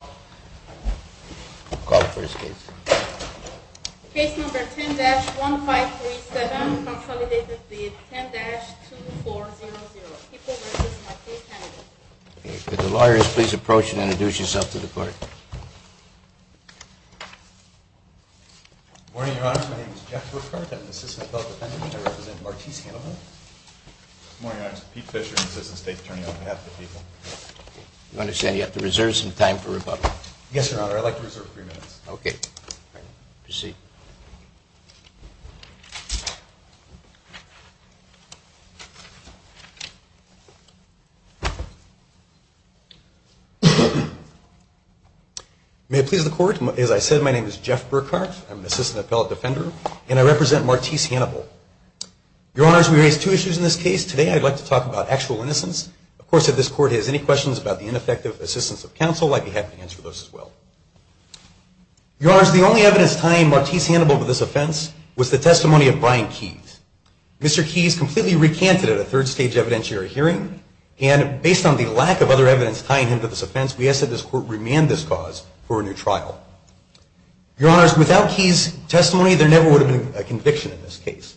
Call the first case. Case number 10-1537, consolidated with 10-2400. People v. Martiz Hanible. Could the lawyers please approach and introduce yourself to the court. Good morning, Your Honor. My name is Jeff LeCourte. I'm an assistant felon defendant. I represent Martiz Hanible. Good morning, Your Honor. I'm Pete Fisher, assistant state attorney on behalf of the people. I understand you have to reserve some time for rebuttal. Yes, Your Honor. I'd like to reserve three minutes. Okay. Proceed. May it please the court. As I said, my name is Jeff Burkhart. I'm an assistant appellate defender. And I represent Martiz Hanible. Your Honor, as we raise two issues in this case, today I'd like to talk about actual innocence. Of course, if this court has any questions about the ineffective assistance of counsel, I'd be happy to answer those as well. Your Honor, the only evidence tying Martiz Hanible to this offense was the testimony of Brian Keyes. Mr. Keyes completely recanted at a third stage evidentiary hearing. And based on the lack of other evidence tying him to this offense, we ask that this court remand this cause for a new trial. Your Honor, without Keyes' testimony, there never would have been a conviction in this case.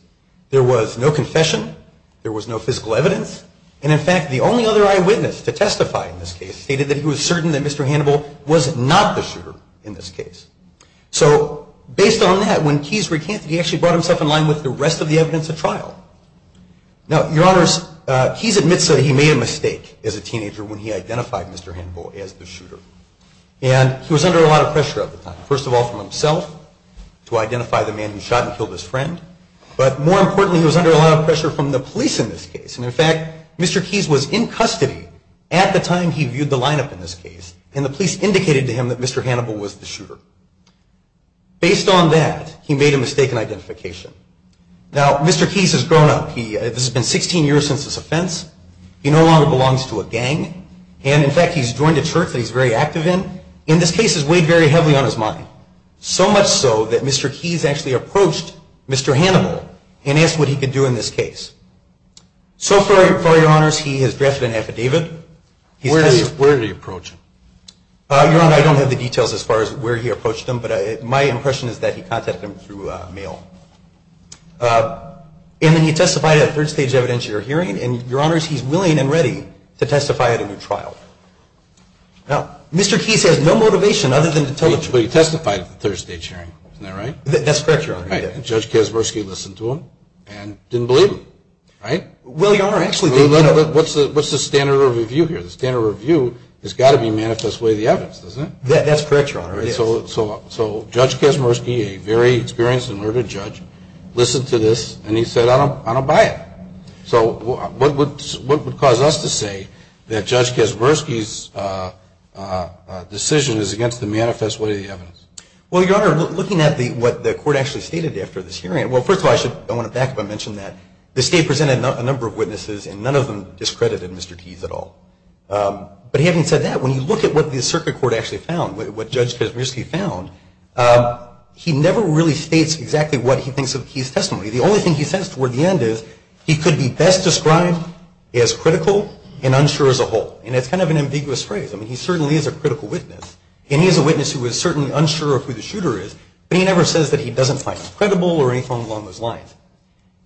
There was no confession. There was no physical evidence. And in fact, the only other eyewitness to testify in this case stated that he was certain that Mr. Hanible was not the shooter in this case. So, based on that, when Keyes recanted, he actually brought himself in line with the rest of the evidence at trial. Now, Your Honors, Keyes admits that he made a mistake as a teenager when he identified Mr. Hanible as the shooter. And he was under a lot of pressure at the time. First of all, from himself, to identify the man who shot and killed his friend. But more importantly, he was under a lot of pressure from the police in this case. And in fact, Mr. Keyes was in custody at the time he viewed the lineup in this case. And the police indicated to him that Mr. Hanible was the shooter. Based on that, he made a mistake in identification. Now, Mr. Keyes has grown up. This has been 16 years since this offense. He no longer belongs to a gang. And in fact, he's joined a church that he's very active in. And this case has weighed very heavily on his mind. So much so that Mr. Keyes actually approached Mr. Hanible and asked what he could do in this case. So far, Your Honors, he has drafted an affidavit. Where did he approach him? Your Honor, I don't have the details as far as where he approached him. But my impression is that he contacted him through mail. And then he testified at a third-stage evidentiary hearing. And, Your Honors, he's willing and ready to testify at a new trial. But he testified at the third-stage hearing. Isn't that right? That's correct, Your Honor. And Judge Kaczmorski listened to him and didn't believe him, right? Well, Your Honor, actually. What's the standard review here? The standard review has got to be manifest way of the evidence, doesn't it? That's correct, Your Honor. So Judge Kaczmorski, a very experienced and learned judge, listened to this and he said, I don't buy it. So what would cause us to say that Judge Kaczmorski's decision is against the manifest way of the evidence? Well, Your Honor, looking at what the court actually stated after this hearing, well, first of all, I want to back up and mention that the State presented a number of witnesses and none of them discredited Mr. Keith at all. But having said that, when you look at what the circuit court actually found, what Judge Kaczmorski found, he never really states exactly what he thinks of Keith's testimony. The only thing he says toward the end is he could be best described as critical and unsure as a whole. And that's kind of an ambiguous phrase. I mean, he certainly is a critical witness. And he is a witness who is certainly unsure of who the shooter is, but he never says that he doesn't find him credible or anything along those lines.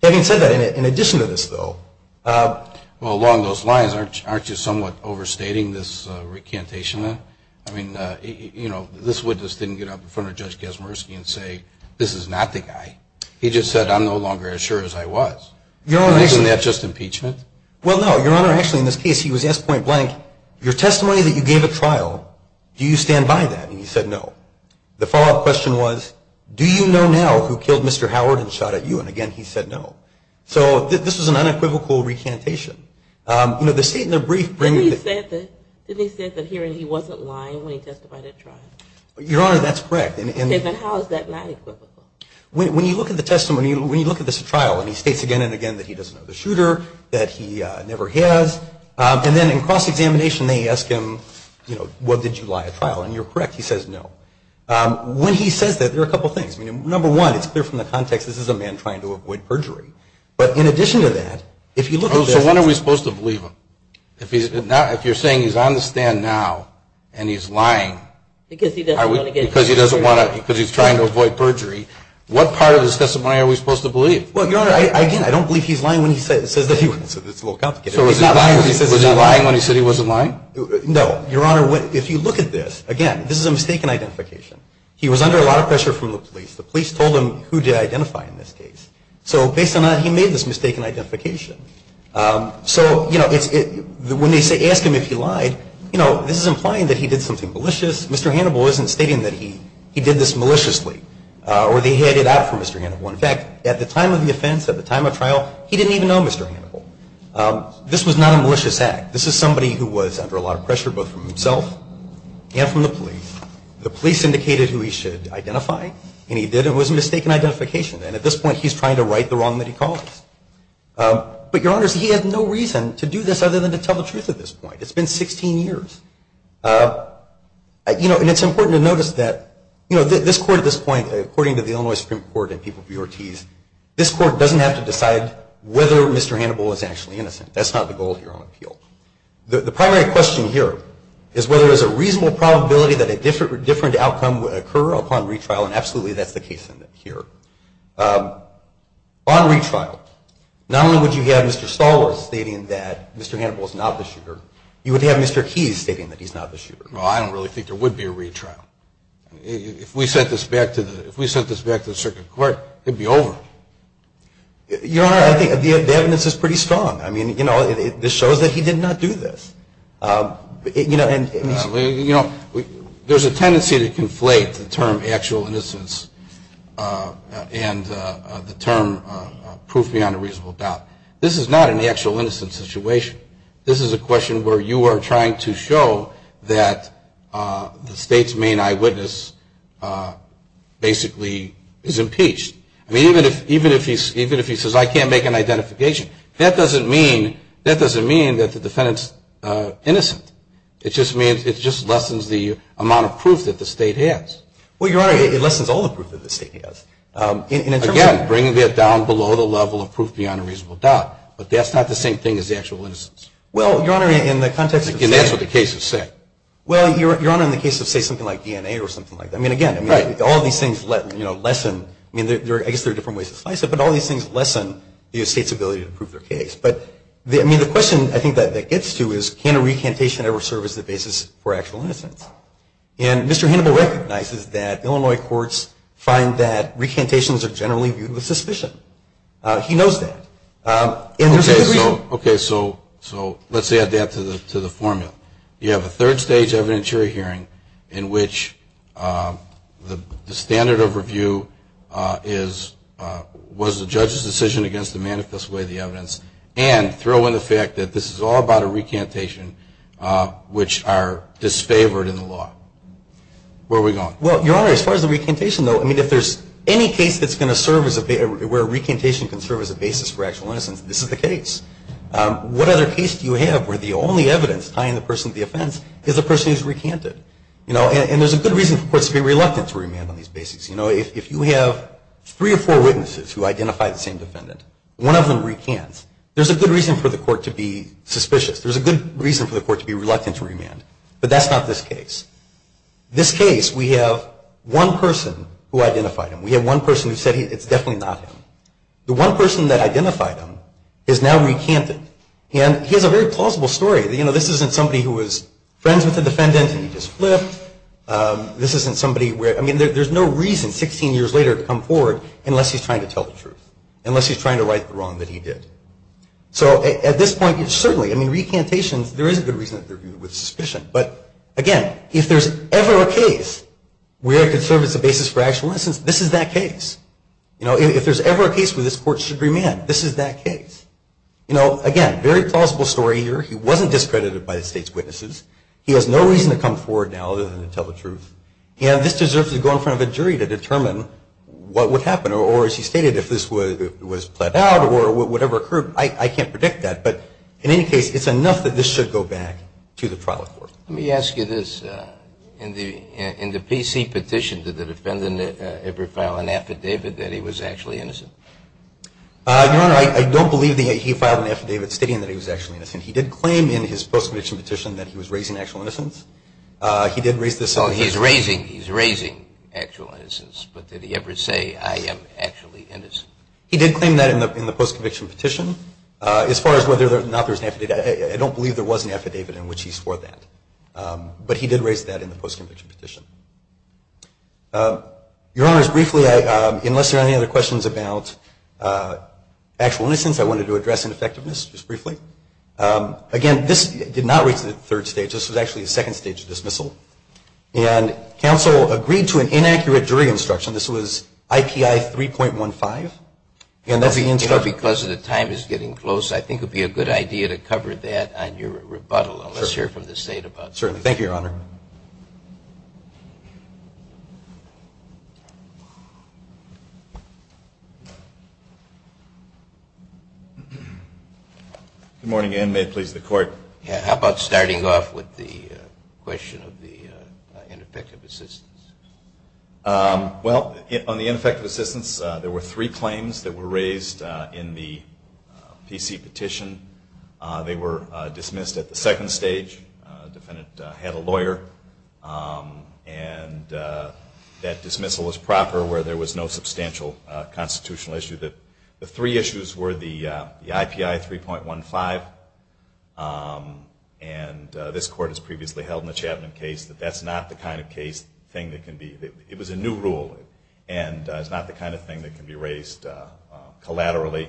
Having said that, in addition to this, though. Well, along those lines, aren't you somewhat overstating this recantation then? I mean, you know, this witness didn't get up in front of Judge Kaczmorski and say, this is not the guy. He just said, I'm no longer as sure as I was. Isn't that just impeachment? Well, no, Your Honor. Actually, in this case, he was yes point blank. Your testimony that you gave at trial, do you stand by that? And you said no. The follow-up question was, do you know now who killed Mr. Howard and shot at you? And, again, he said no. So this was an unequivocal recantation. You know, the State in their brief brings it. Didn't he say that he wasn't lying when he testified at trial? Your Honor, that's correct. Then how is that not equivocal? When you look at the testimony, when you look at this at trial, and he states again and again that he doesn't know the shooter, that he never has, and then in cross-examination they ask him, you know, what, did you lie at trial? And you're correct. He says no. When he says that, there are a couple of things. I mean, number one, it's clear from the context this is a man trying to avoid perjury. But in addition to that, if you look at this. Oh, so when are we supposed to believe him? If you're saying he's on the stand now and he's lying. Because he doesn't want to get a chance to prove it. I mean, if he's lying, what part of the testimony are we supposed to believe? Well, Your Honor, again, I don't believe he's lying when he says that he wasn't. It's a little complicated. So was he lying when he said he wasn't lying? No. Your Honor, if you look at this, again, this is a mistaken identification. He was under a lot of pressure from the police. The police told him who to identify in this case. So based on that, he made this mistaken identification. So, you know, when they ask him if he lied, you know, this is implying that he did something malicious. Mr. Hannibal isn't stating that he did this maliciously or that he had it out for Mr. Hannibal. In fact, at the time of the offense, at the time of trial, he didn't even know Mr. Hannibal. This was not a malicious act. This is somebody who was under a lot of pressure both from himself and from the police. The police indicated who he should identify, and he did. It was a mistaken identification. And at this point, he's trying to right the wrong that he caused. But, Your Honors, he had no reason to do this other than to tell the truth at this point. It's been 16 years. You know, and it's important to notice that, you know, this court at this point, according to the Illinois Supreme Court and people of BRTs, this court doesn't have to decide whether Mr. Hannibal is actually innocent. That's not the goal here on appeal. The primary question here is whether there's a reasonable probability that a different outcome would occur upon retrial, and absolutely that's the case here. Upon retrial, not only would you have Mr. Stoller stating that Mr. Hannibal is not the shooter, you would have Mr. Keyes stating that he's not the shooter. Well, I don't really think there would be a retrial. If we sent this back to the circuit court, it would be over. Your Honor, I think the evidence is pretty strong. I mean, you know, this shows that he did not do this. You know, there's a tendency to conflate the term actual innocence and the term proof beyond a reasonable doubt. This is not an actual innocent situation. This is a question where you are trying to show that the State's main eyewitness basically is impeached. I mean, even if he says, I can't make an identification, that doesn't mean that the defendant's innocent. It just means it just lessens the amount of proof that the State has. Well, Your Honor, it lessens all the proof that the State has. Again, bringing it down below the level of proof beyond a reasonable doubt, but that's not the same thing as actual innocence. Well, Your Honor, in the context of saying – And that's what the case is saying. Well, Your Honor, in the case of say something like DNA or something like that, I mean, again – Right. All these things, you know, lessen – I mean, I guess there are different ways to slice it, but all these things lessen the State's ability to prove their case. But, I mean, the question I think that gets to is can a recantation ever serve as the basis for actual innocence? And Mr. Hannibal recognizes that Illinois courts find that recantations are generally viewed with suspicion. He knows that. Okay, so let's add that to the formula. You have a third stage evidentiary hearing in which the standard of review is was the judge's decision against the manifest way of the evidence and throw in the fact that this is all about a recantation, which are disfavored in the law. Where are we going? Well, Your Honor, as far as the recantation, though, I mean, if there's any case that's going to serve as a – where a recantation can serve as a basis for actual innocence, this is the case. What other case do you have where the only evidence tying the person to the offense is a person who's recanted? You know, and there's a good reason for courts to be reluctant to remand on these basics. You know, if you have three or four witnesses who identify the same defendant, one of them recants, there's a good reason for the court to be suspicious. There's a good reason for the court to be reluctant to remand. But that's not this case. This case, we have one person who identified him. We have one person who said it's definitely not him. The one person that identified him is now recanted. And he has a very plausible story. You know, this isn't somebody who was friends with the defendant and he just flipped. This isn't somebody where – I mean, there's no reason 16 years later to come forward unless he's trying to tell the truth, unless he's trying to right the wrong that he did. So at this point, certainly, I mean, recantations, there is a good reason that they're viewed with suspicion. But, again, if there's ever a case where it could serve as a basis for actual innocence, this is that case. You know, if there's ever a case where this court should remand, this is that case. You know, again, very plausible story here. He wasn't discredited by the state's witnesses. He has no reason to come forward now other than to tell the truth. And this deserves to go in front of a jury to determine what would happen or, as he stated, if this was plead out or whatever occurred. I can't predict that. But, in any case, it's enough that this should go back to the trial court. Let me ask you this. In the PC petition, did the defendant ever file an affidavit that he was actually innocent? Your Honor, I don't believe that he filed an affidavit stating that he was actually innocent. He did claim in his post-conviction petition that he was raising actual innocence. He did raise this. Oh, he's raising actual innocence. But did he ever say, I am actually innocent? He did claim that in the post-conviction petition. As far as whether or not there was an affidavit, I don't believe there was an affidavit in which he swore that. But he did raise that in the post-conviction petition. Your Honor, as briefly, unless there are any other questions about actual innocence, I wanted to address ineffectiveness just briefly. Again, this did not reach the third stage. This was actually the second stage of dismissal. And counsel agreed to an inaccurate jury instruction. This was IPI 3.15. You know, because the time is getting close, I think it would be a good idea to cover that on your rebuttal. Let's hear from the State about that. Certainly. Thank you, Your Honor. Good morning, and may it please the Court. How about starting off with the question of the ineffective assistance? Well, on the ineffective assistance, there were three claims that were raised in the PC petition. They were dismissed at the second stage. The defendant had a lawyer. And that dismissal was proper where there was no substantial constitutional issue. The three issues were the IPI 3.15, and this Court has previously held in the Chapman case that that's not the kind of case, thing that can be, it was a new rule. And it's not the kind of thing that can be raised collaterally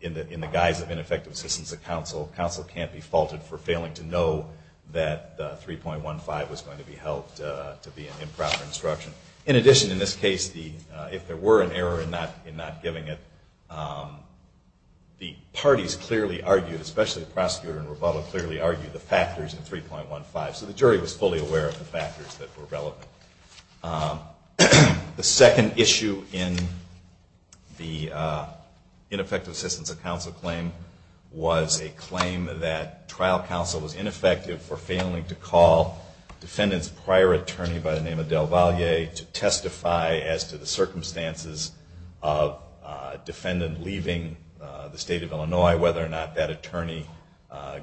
in the guise of ineffective assistance of counsel. Counsel can't be faulted for failing to know that 3.15 was going to be held to be an improper instruction. In addition, in this case, if there were an error in not giving it, the parties clearly argued, especially the prosecutor in rebuttal, clearly argued the factors in 3.15. So the jury was fully aware of the factors that were relevant. The second issue in the ineffective assistance of counsel claim was a claim that trial counsel was ineffective for failing to call the defendant's prior attorney by the name of Del Valle to testify as to the circumstances of a defendant leaving the state of Illinois, whether or not that attorney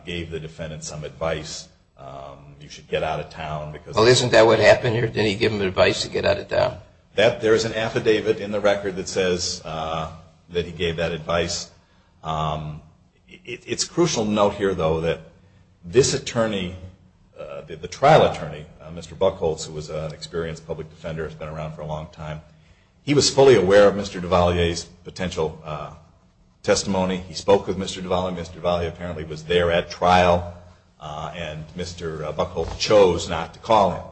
gave the defendant some advice. You should get out of town because... Well, isn't that what happened here? Didn't he give him advice to get out of town? There is an affidavit in the record that says that he gave that advice. It's crucial to note here, though, that this attorney, the trial attorney, Mr. Buchholz, who was an experienced public defender, has been around for a long time. He was fully aware of Mr. Del Valle's potential testimony. He spoke with Mr. Del Valle. Mr. Del Valle apparently was there at trial, and Mr. Buchholz chose not to call him.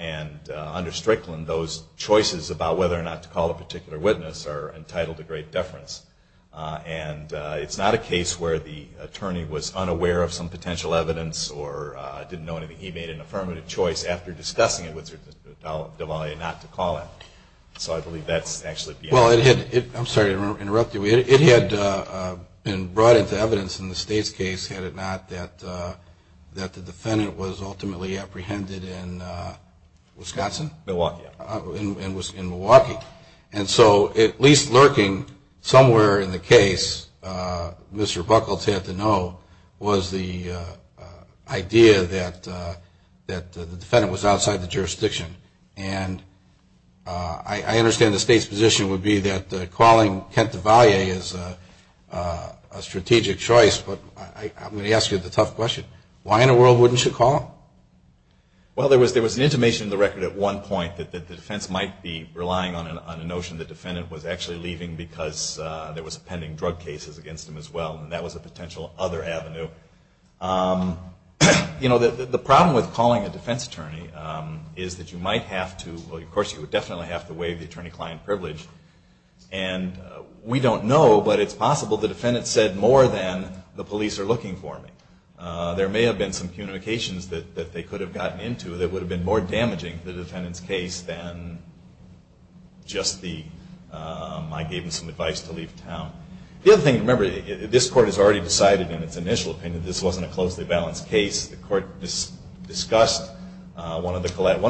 And under Strickland, those choices about whether or not to call a particular witness are entitled to great deference. And it's not a case where the attorney was unaware of some potential evidence or didn't know anything. He made an affirmative choice after discussing it with Mr. Del Valle not to call him. So I believe that's actually... Well, it had... I'm sorry to interrupt you. It had been brought into evidence in the state's case, had it not that the defendant was ultimately apprehended in Wisconsin? Milwaukee. And was in Milwaukee. And so at least lurking somewhere in the case, Mr. Buchholz had to know, was the idea that the defendant was outside the jurisdiction. And I understand the state's position would be that calling Kent Del Valle is a strategic choice, but I'm going to ask you the tough question. Why in the world wouldn't you call him? Well, there was an intimation in the record at one point that the defense might be relying on a notion the defendant was actually leaving because there was a pending drug case against him as well. And that was a potential other avenue. You know, the problem with calling a defense attorney is that you might have to... Well, of course you would definitely have to waive the attorney-client privilege. And we don't know, but it's possible the defendant said more than, the police are looking for me. There may have been some communications that they could have gotten into that would have been more damaging to the defendant's case than just the, I gave him some advice to leave town. The other thing to remember, this court has already decided in its initial opinion this wasn't a closely balanced case. The court discussed one of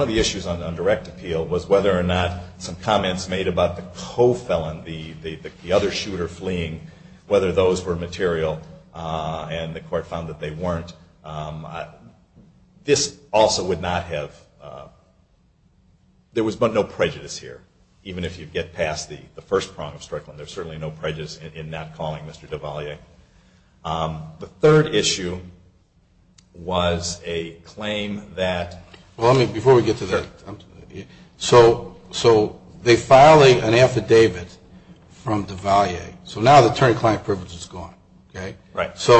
the issues on direct appeal was whether or not some comments made about the co-felon, the other shooter fleeing, whether those were material. And the court found that they weren't. This also would not have... There was no prejudice here, even if you get past the first prong of Strickland. There's certainly no prejudice in not calling Mr. Duvalier. The third issue was a claim that... So now the attorney-client privilege is gone. So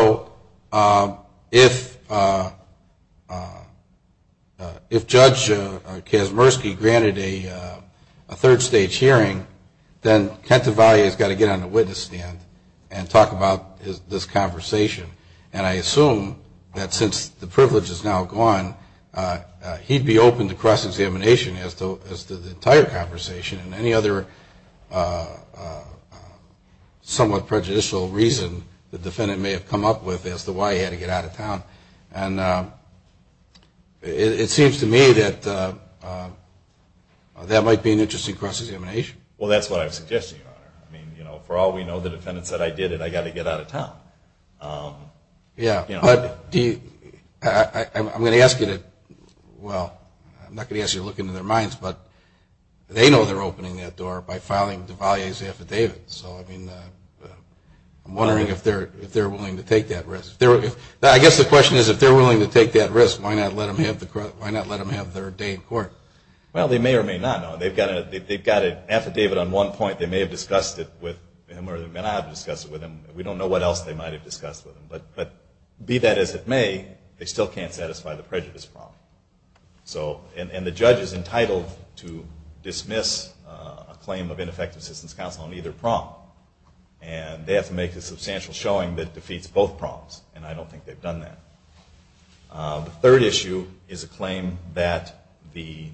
if Judge Kazmersky granted a third-stage hearing, then Kent Duvalier has got to get on the witness stand and talk about this conversation. And I assume that since the privilege is now gone, he'd be open to cross-examination as to the entire conversation. And any other somewhat prejudicial reason the defendant may have come up with as to why he had to get out of town. And it seems to me that that might be an interesting cross-examination. Well, that's what I'm suggesting, Your Honor. I mean, you know, for all we know, the defendant said, I did it, I got to get out of town. Yeah, but I'm going to ask you to, well, I'm not going to ask you to look into their minds, but they know they're opening that door by filing Duvalier's affidavit. So, I mean, I'm wondering if they're willing to take that risk. I guess the question is, if they're willing to take that risk, why not let them have their day in court? Well, they may or may not. They've got an affidavit on one point. They may have discussed it with him or they may not have discussed it with him. We don't know what else they might have discussed with him. But be that as it may, they still can't satisfy the prejudice problem. And the judge is entitled to dismiss a claim of ineffective assistance counsel on either prompt. And they have to make a substantial showing that defeats both prompts. And I don't think they've done that. The third issue is a claim that the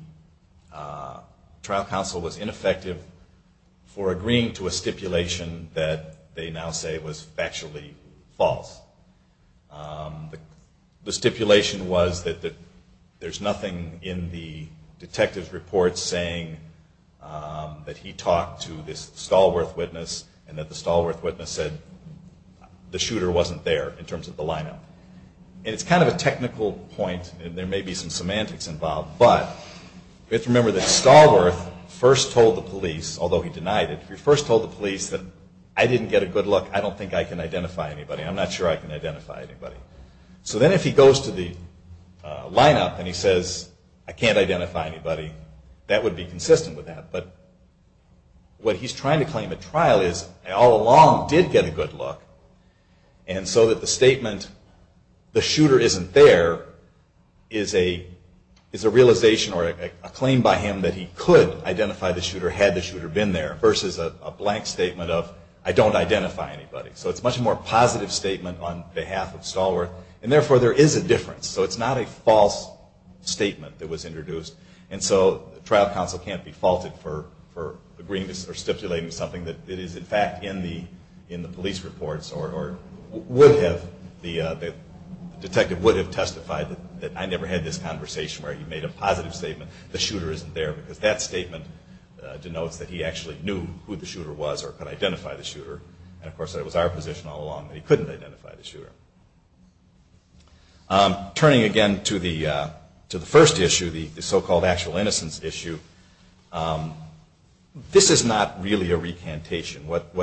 trial counsel was ineffective for agreeing to a stipulation that they now say was factually false. The stipulation was that there's nothing in the detective's report saying that he talked to this Stallworth witness and that the Stallworth witness said the shooter wasn't there in terms of the lineup. And it's kind of a technical point, and there may be some semantics involved, but we have to remember that Stallworth first told the police, although he denied it, he first told the police that I didn't get a good look, I don't think I can identify anybody. I'm not sure I can identify anybody. So then if he goes to the lineup and he says I can't identify anybody, that would be consistent with that. But what he's trying to claim at trial is all along did get a good look, and so that the statement the shooter isn't there is a realization or a claim by him that he could identify the shooter had the shooter been there versus a blank statement of I don't identify anybody. So it's a much more positive statement on behalf of Stallworth, and therefore there is a difference. So it's not a false statement that was introduced. And so trial counsel can't be faulted for agreeing or stipulating something that is in fact in the police reports or the detective would have testified that I never had this conversation where he made a positive statement, the shooter isn't there because that statement denotes that he actually knew who the shooter was or could identify the shooter. And of course that was our position all along that he couldn't identify the shooter. Turning again to the first issue, the so-called actual innocence issue, this is not really a recantation. What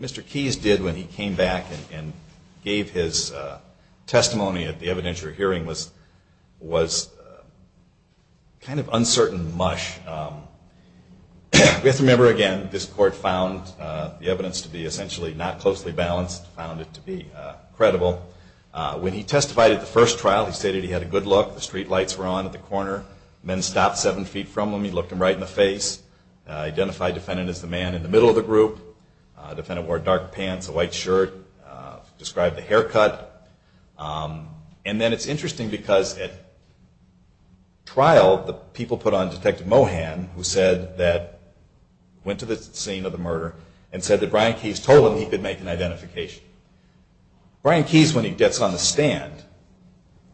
Mr. Keyes did when he came back and gave his testimony at the evidentiary hearing was kind of uncertain mush. We have to remember again this court found the evidence to be essentially not closely balanced, found it to be credible. When he testified at the first trial he stated he had a good look, the streetlights were on at the corner, men stopped seven feet from him, he looked him right in the face, identified defendant as the man in the middle of the group, defendant wore dark pants, a white shirt, described the haircut. And then it's interesting because at trial the people put on Detective Mohan who went to the scene of the murder and said that Brian Keyes told him he could make an identification. Brian Keyes when he gets on the stand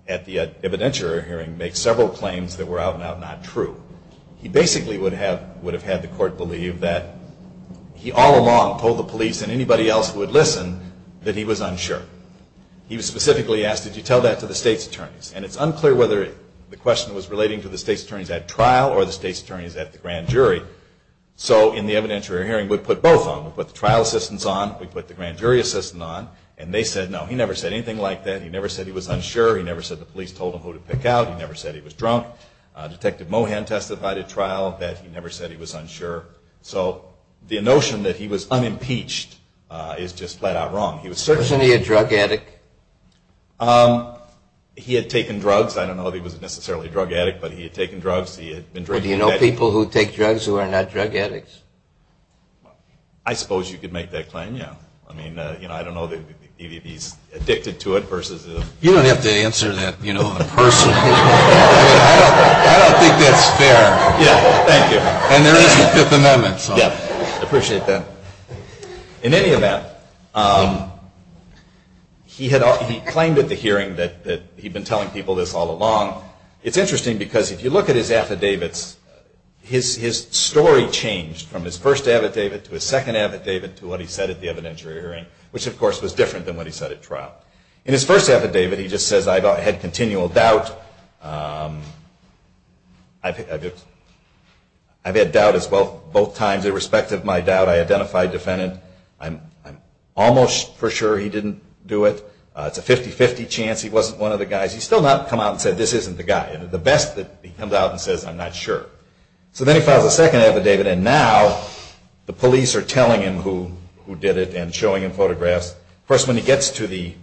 at the evidentiary hearing makes several claims that were out and out not true. He basically would have had the court believe that he all along told the police and anybody else who would listen that he was unsure. He was specifically asked did you tell that to the state's attorneys? And it's unclear whether the question was relating to the state's attorneys at trial or the state's attorneys at the grand jury. So in the evidentiary hearing we put both on, we put the trial assistants on, we put the grand jury assistant on, and they said no he never said anything like that, he never said he was unsure, he never said the police told him who to pick out, he never said he was drunk. Detective Mohan testified at trial that he never said he was unsure. So the notion that he was unimpeached is just flat out wrong. Wasn't he a drug addict? He had taken drugs, I don't know if he was necessarily a drug addict, but he had taken drugs, he had been drinking. Do you know people who take drugs who are not drug addicts? I suppose you could make that claim, yeah. I mean, I don't know if he's addicted to it versus. You don't have to answer that, you know, in person. I don't think that's fair. Yeah, thank you. And there is a Fifth Amendment, so. Yeah, I appreciate that. In any event, he claimed at the hearing that he had been telling people this all along. It's interesting because if you look at his affidavits, his story changed from his first affidavit to his second affidavit to what he said at the evidentiary hearing, which of course was different than what he said at trial. In his first affidavit he just says I had continual doubt, I've had doubt as well both times, irrespective of my doubt I identified defendant. I'm almost for sure he didn't do it. It's a 50-50 chance he wasn't one of the guys. He's still not come out and said this isn't the guy. The best that he comes out and says I'm not sure. So then he files a second affidavit and now the police are telling him who did it and showing him photographs. Of course, when he gets to the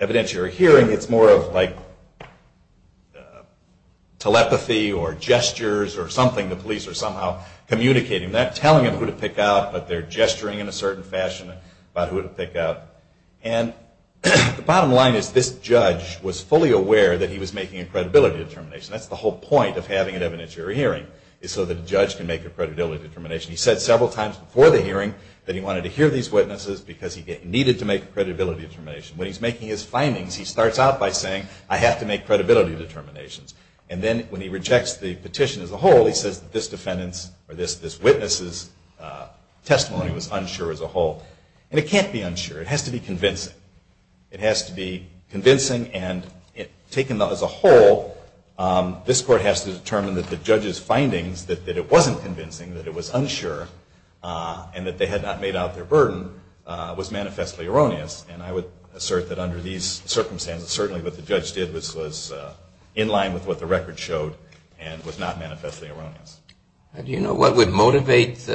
evidentiary hearing, it's more of like telepathy or gestures or something. The police are somehow communicating, not telling him who to pick out, but they're gesturing in a certain fashion about who to pick out. And the bottom line is this judge was fully aware that he was making a credibility determination. That's the whole point of having an evidentiary hearing is so the judge can make a credibility determination. He said several times before the hearing that he wanted to hear these witnesses because he needed to make a credibility determination. When he's making his findings, he starts out by saying I have to make credibility determinations. And then when he rejects the petition as a whole, he says that this witness' testimony was unsure as a whole. And it can't be unsure. It has to be convincing. It has to be convincing and taken as a whole, this court has to determine that the judge's findings, that it wasn't convincing, that it was unsure, and that they had not made out their burden, was manifestly erroneous. And I would assert that under these circumstances, certainly what the judge did was in line with what the record showed and was not manifestly erroneous. Do you know what would motivate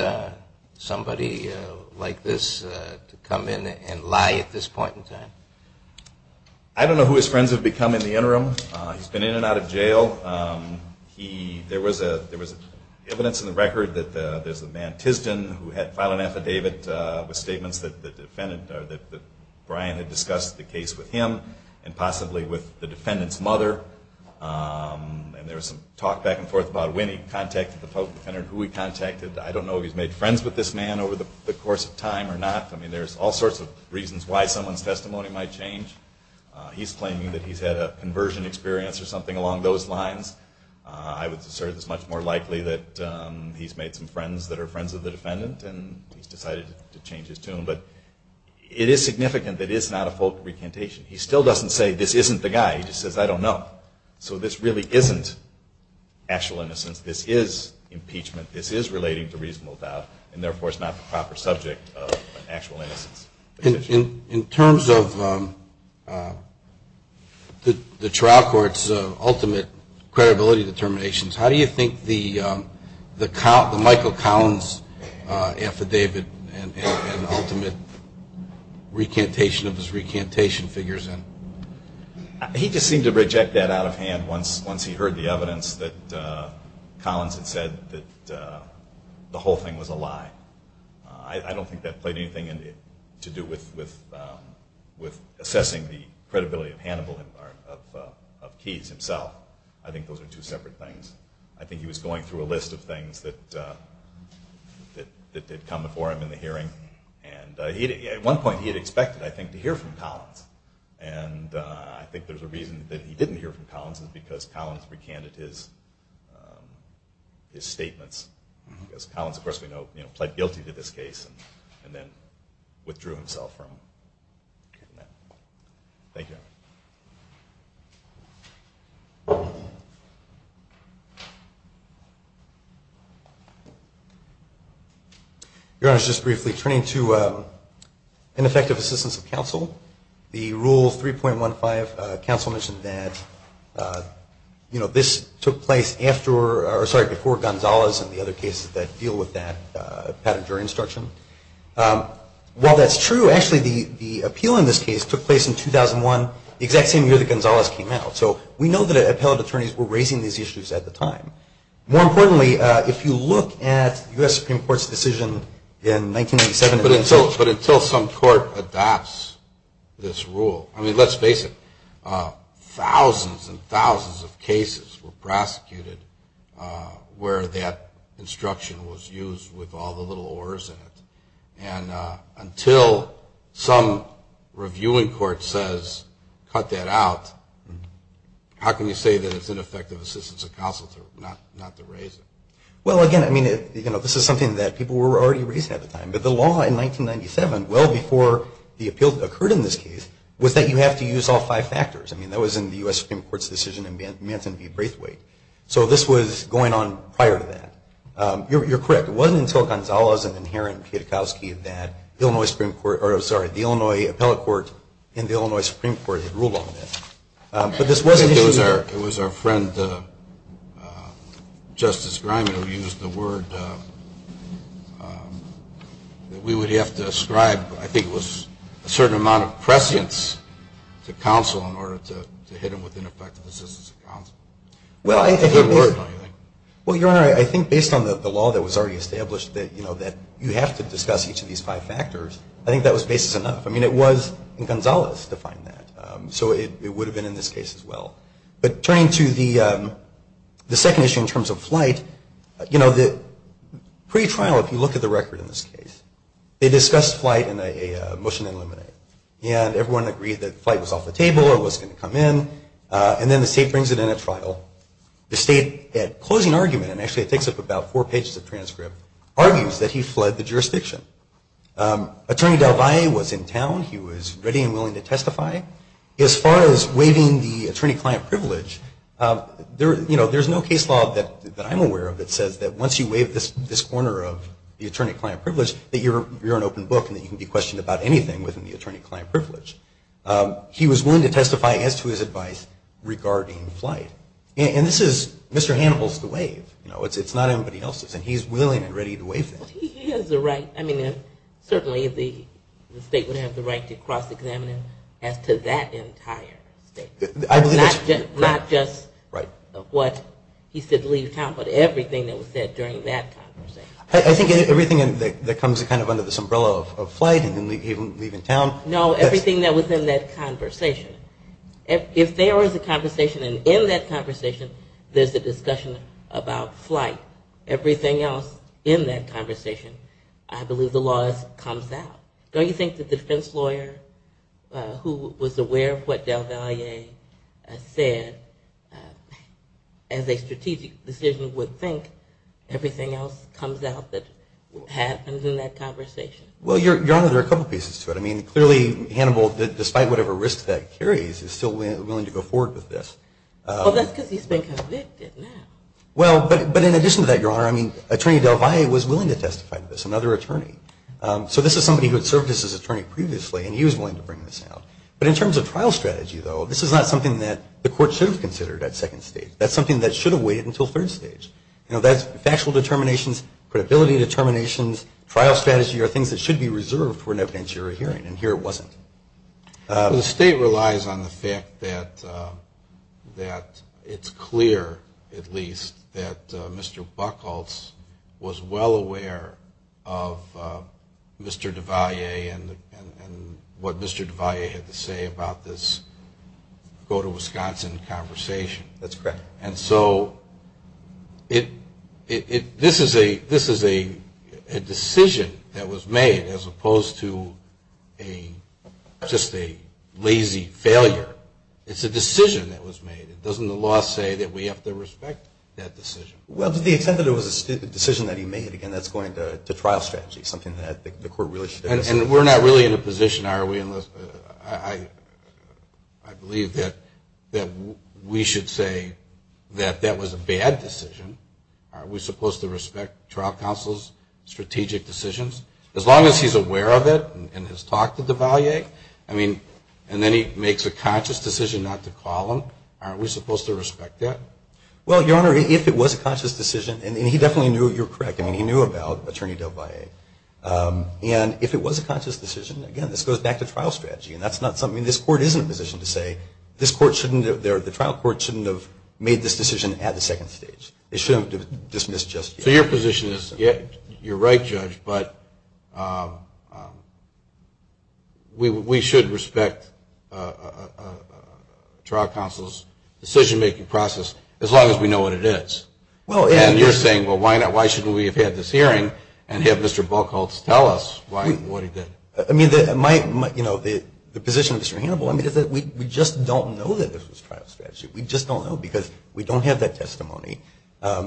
somebody like this to come in and lie at this point in time? I don't know who his friends have become in the interim. He's been in and out of jail. There was evidence in the record that there's a man who had filed an affidavit with statements that the defendant, that Brian had discussed the case with him and possibly with the defendant's mother. And there was some talk back and forth about when he contacted the public defender and who he contacted. I don't know if he's made friends with this man over the course of time or not. I mean, there's all sorts of reasons why someone's testimony might change. He's claiming that he's had a conversion experience or something along those lines. I would assert it's much more likely that he's made some friends that are friends of the defendant and he's decided to change his tune. But it is significant that it's not a full recantation. He still doesn't say, this isn't the guy. He just says, I don't know. So this really isn't actual innocence. This is impeachment. This is relating to reasonable doubt, and therefore it's not the proper subject of an actual innocence petition. In terms of the trial court's ultimate credibility determinations, how do you think the Michael Collins affidavit and ultimate recantation of his recantation figures in? He just seemed to reject that out of hand once he heard the evidence that Collins had said that the whole thing was a lie. I don't think that played anything to do with assessing the credibility of Hannibal of Keyes himself. I think those are two separate things. I think he was going through a list of things that had come before him in the hearing. And at one point he had expected, I think, to hear from Collins. And I think there's a reason that he didn't hear from Collins is because Collins recanted his statements. Collins, of course, we know, pled guilty to this case and then withdrew himself from that. Thank you. Your Honor, just briefly, turning to ineffective assistance of counsel, the Rule 3.15, counsel mentioned that this took place before Gonzalez and the other cases that deal with that pattern of jury instruction. While that's true, actually, the appeal in this case took place in 2001, the exact same year that Gonzalez came out. So we know that appellate attorneys were raising these issues at the time. More importantly, if you look at U.S. Supreme Court's decision in 1987- But until some court adopts this rule, I mean, let's face it, thousands and thousands of cases were prosecuted where that instruction was used with all the little ors in it. And until some reviewing court says, cut that out, how can you say that it's ineffective assistance of counsel not to raise it? Well, again, I mean, this is something that people were already raising at the time. But the law in 1997, well before the appeal occurred in this case, was that you have to use all five factors. I mean, that was in the U.S. Supreme Court's decision in Manson v. Braithwaite. So this was going on prior to that. You're correct. It wasn't until Gonzalez and then Heron-Pietkowski that the Illinois Supreme Court or, sorry, the Illinois Appellate Court and the Illinois Supreme Court had ruled on this. I think it was our friend Justice Grimey who used the word that we would have to ascribe, I think it was a certain amount of prescience to counsel in order to hit them with ineffective assistance of counsel. Well, Your Honor, I think based on the law that was already established that, you know, that you have to discuss each of these five factors, I think that was basis enough. I mean, it was, and Gonzalez defined that. So it would have been in this case as well. But turning to the second issue in terms of flight, you know, the pretrial, if you look at the record in this case, they discussed flight in a motion to eliminate. And everyone agreed that flight was off the table or wasn't going to come in. And then the state brings it in at trial. The state, at closing argument, and actually it takes up about four pages of transcript, argues that he fled the jurisdiction. Attorney DelValle was in town. He was ready and willing to testify. As far as waiving the attorney-client privilege, you know, there's no case law that I'm aware of that says that once you waive this corner of the attorney-client privilege that you're an open book and that you can be questioned about anything within the attorney-client privilege. He was willing to testify as to his advice regarding flight. And this is Mr. Hannibal's to waive. You know, it's not anybody else's. And he's willing and ready to waive things. He has the right. I mean, certainly the state would have the right to cross-examine him as to that entire statement. Not just what he said, leave town, but everything that was said during that conversation. I think everything that comes kind of under this umbrella of flight and leave in town. No, everything that was in that conversation. If there was a conversation and in that conversation there's a discussion about flight, everything else in that conversation, I believe the law comes out. Don't you think that the defense lawyer who was aware of what Del Valle said as a strategic decision would think everything else comes out that happened in that conversation? Well, Your Honor, there are a couple pieces to it. I mean, clearly Hannibal, despite whatever risks that carries, is still willing to go forward with this. Well, that's because he's been convicted now. Well, but in addition to that, Your Honor, I mean, Attorney Del Valle was willing to testify to this, another attorney. So this is somebody who had served as his attorney previously, and he was willing to bring this out. But in terms of trial strategy, though, this is not something that the court should have considered at second stage. That's something that should have waited until third stage. You know, that's factual determinations, credibility determinations, trial strategy are things that should be reserved for an evidentiary hearing, and here it wasn't. The state relies on the fact that it's clear, at least, that Mr. Buchholz was well aware of Mr. Del Valle and what Mr. Del Valle had to say about this go-to-Wisconsin conversation. That's correct. And so this is a decision that was made as opposed to just a lazy failure. It's a decision that was made. Doesn't the law say that we have to respect that decision? Well, to the extent that it was a decision that he made, again, that's going to trial strategy, something that the court really should have considered. And we're not really in a position, are we? I believe that we should say that that was a bad decision. Aren't we supposed to respect trial counsel's strategic decisions? As long as he's aware of it and has talked to Del Valle, I mean, and then he makes a conscious decision not to call him, aren't we supposed to respect that? Well, Your Honor, if it was a conscious decision, and he definitely knew, you're correct, I mean, he knew about Attorney Del Valle. And if it was a conscious decision, again, this goes back to trial strategy, and that's not something this Court isn't in a position to say, the trial court shouldn't have made this decision at the second stage. It shouldn't have dismissed just yet. So your position is you're right, Judge, but we should respect trial counsel's decision-making process as long as we know what it is. And you're saying, well, why shouldn't we have had this hearing and have Mr. Buchholz tell us what he did? I mean, the position of Mr. Hannibal, I mean, is that we just don't know that this was trial strategy. We just don't know because we don't have that testimony.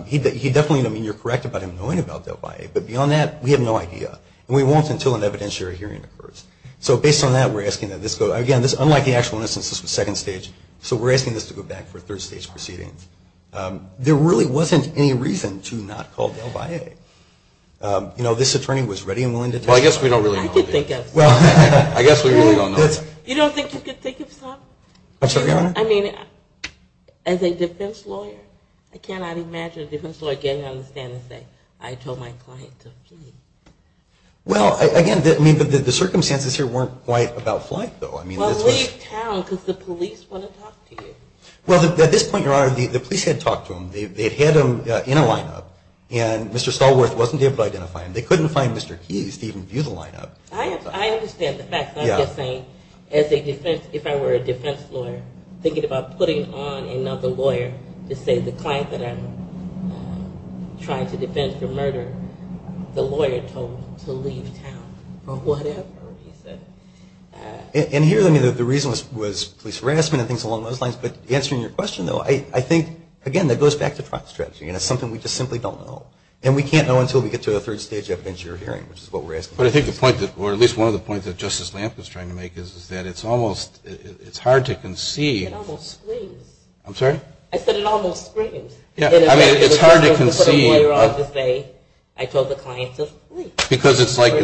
He definitely, I mean, you're correct about him knowing about Del Valle, but beyond that, we have no idea. And we won't until an evidentiary hearing occurs. So based on that, we're asking that this go, again, unlike the actual instance, this was second stage, so we're asking this to go back for third stage proceedings. There really wasn't any reason to not call Del Valle. You know, this attorney was ready and willing to testify. Well, I guess we don't really know. I could think of some. I guess we really don't know. You don't think you could think of some? I'm sorry, Your Honor? I mean, as a defense lawyer, I cannot imagine a defense lawyer getting on the stand and saying, I told my client to flee. Well, again, the circumstances here weren't quite about flight, though. Well, leave town because the police want to talk to you. Well, at this point, Your Honor, the police had talked to him. They had him in a lineup, and Mr. Stallworth wasn't able to identify him. They couldn't find Mr. Keyes to even view the lineup. I understand the fact. I'm just saying, as a defense, if I were a defense lawyer, thinking about putting on another lawyer to say the client that I'm trying to defend for murder, the lawyer told him to leave town for whatever reason. And here, I mean, the reason was police harassment and things along those lines. But answering your question, though, I think, again, that goes back to trial strategy, and it's something we just simply don't know. And we can't know until we get to a third stage evidence you're hearing, which is what we're asking. But I think the point, or at least one of the points that Justice Lampkin is trying to make is that it's almost, it's hard to conceive. It almost screams. I'm sorry? I said it almost screams. Yeah, I mean, it's hard to conceive. I told the client to flee. Because it's like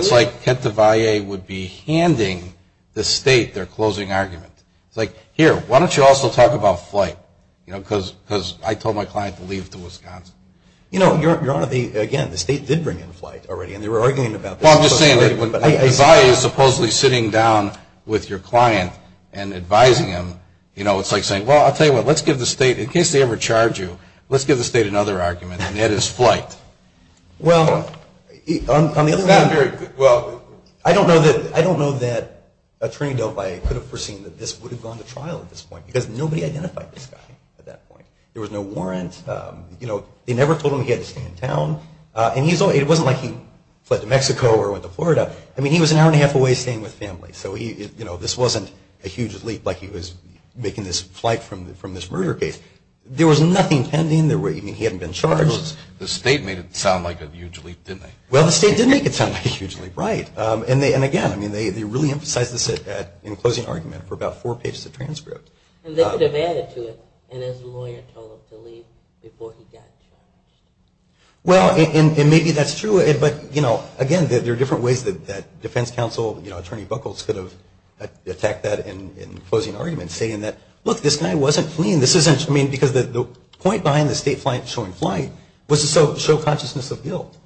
Kete de Valle would be handing the state their closing argument. It's like, here, why don't you also talk about flight? You know, because I told my client to leave to Wisconsin. You know, Your Honor, again, the state did bring in flight already, and they were arguing about this. Well, I'm just saying that when de Valle is supposedly sitting down with your client and advising him, you know, it's like saying, well, I'll tell you what, let's give the state, in case they ever charge you, let's give the state another argument, and that is flight. Well, on the other hand. Well, I don't know that Attorney Del Valle could have foreseen that this would have gone to trial at this point, because nobody identified this guy at that point. There was no warrant. You know, they never told him he had to stay in town. And it wasn't like he fled to Mexico or went to Florida. I mean, he was an hour and a half away staying with family. So, you know, this wasn't a huge leap like he was making this flight from this murder case. There was nothing pending. I mean, he hadn't been charged. The state made it sound like a huge leap, didn't they? Well, the state did make it sound like a huge leap, right. And, again, I mean, they really emphasized this in closing argument for about four pages of transcript. And they could have added to it, and his lawyer told him to leave before he got charged. Well, and maybe that's true. But, you know, again, there are different ways that defense counsel, you know, Attorney Buckles could have attacked that in closing argument, saying that, look, this guy wasn't fleeing. I mean, because the point behind the state showing flight was to show consciousness of guilt.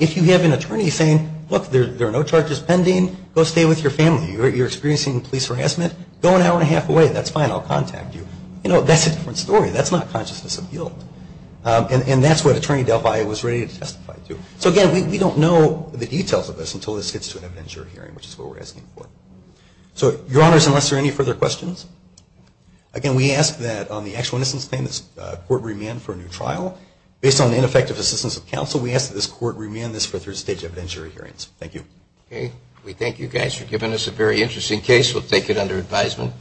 If you have an attorney saying, look, there are no charges pending, go stay with your family. You're experiencing police harassment, go an hour and a half away. That's fine. I'll contact you. You know, that's a different story. That's not consciousness of guilt. And that's what Attorney Delphi was ready to testify to. So, again, we don't know the details of this until this gets to an evidentiary hearing, which is what we're asking for. So, Your Honors, unless there are any further questions, again, we ask that on the actual innocence claim this court remand for a new trial. Based on the ineffective assistance of counsel, we ask that this court remand this for third stage evidentiary hearings. Thank you. We thank you guys for giving us a very interesting case. We'll take it under advisement.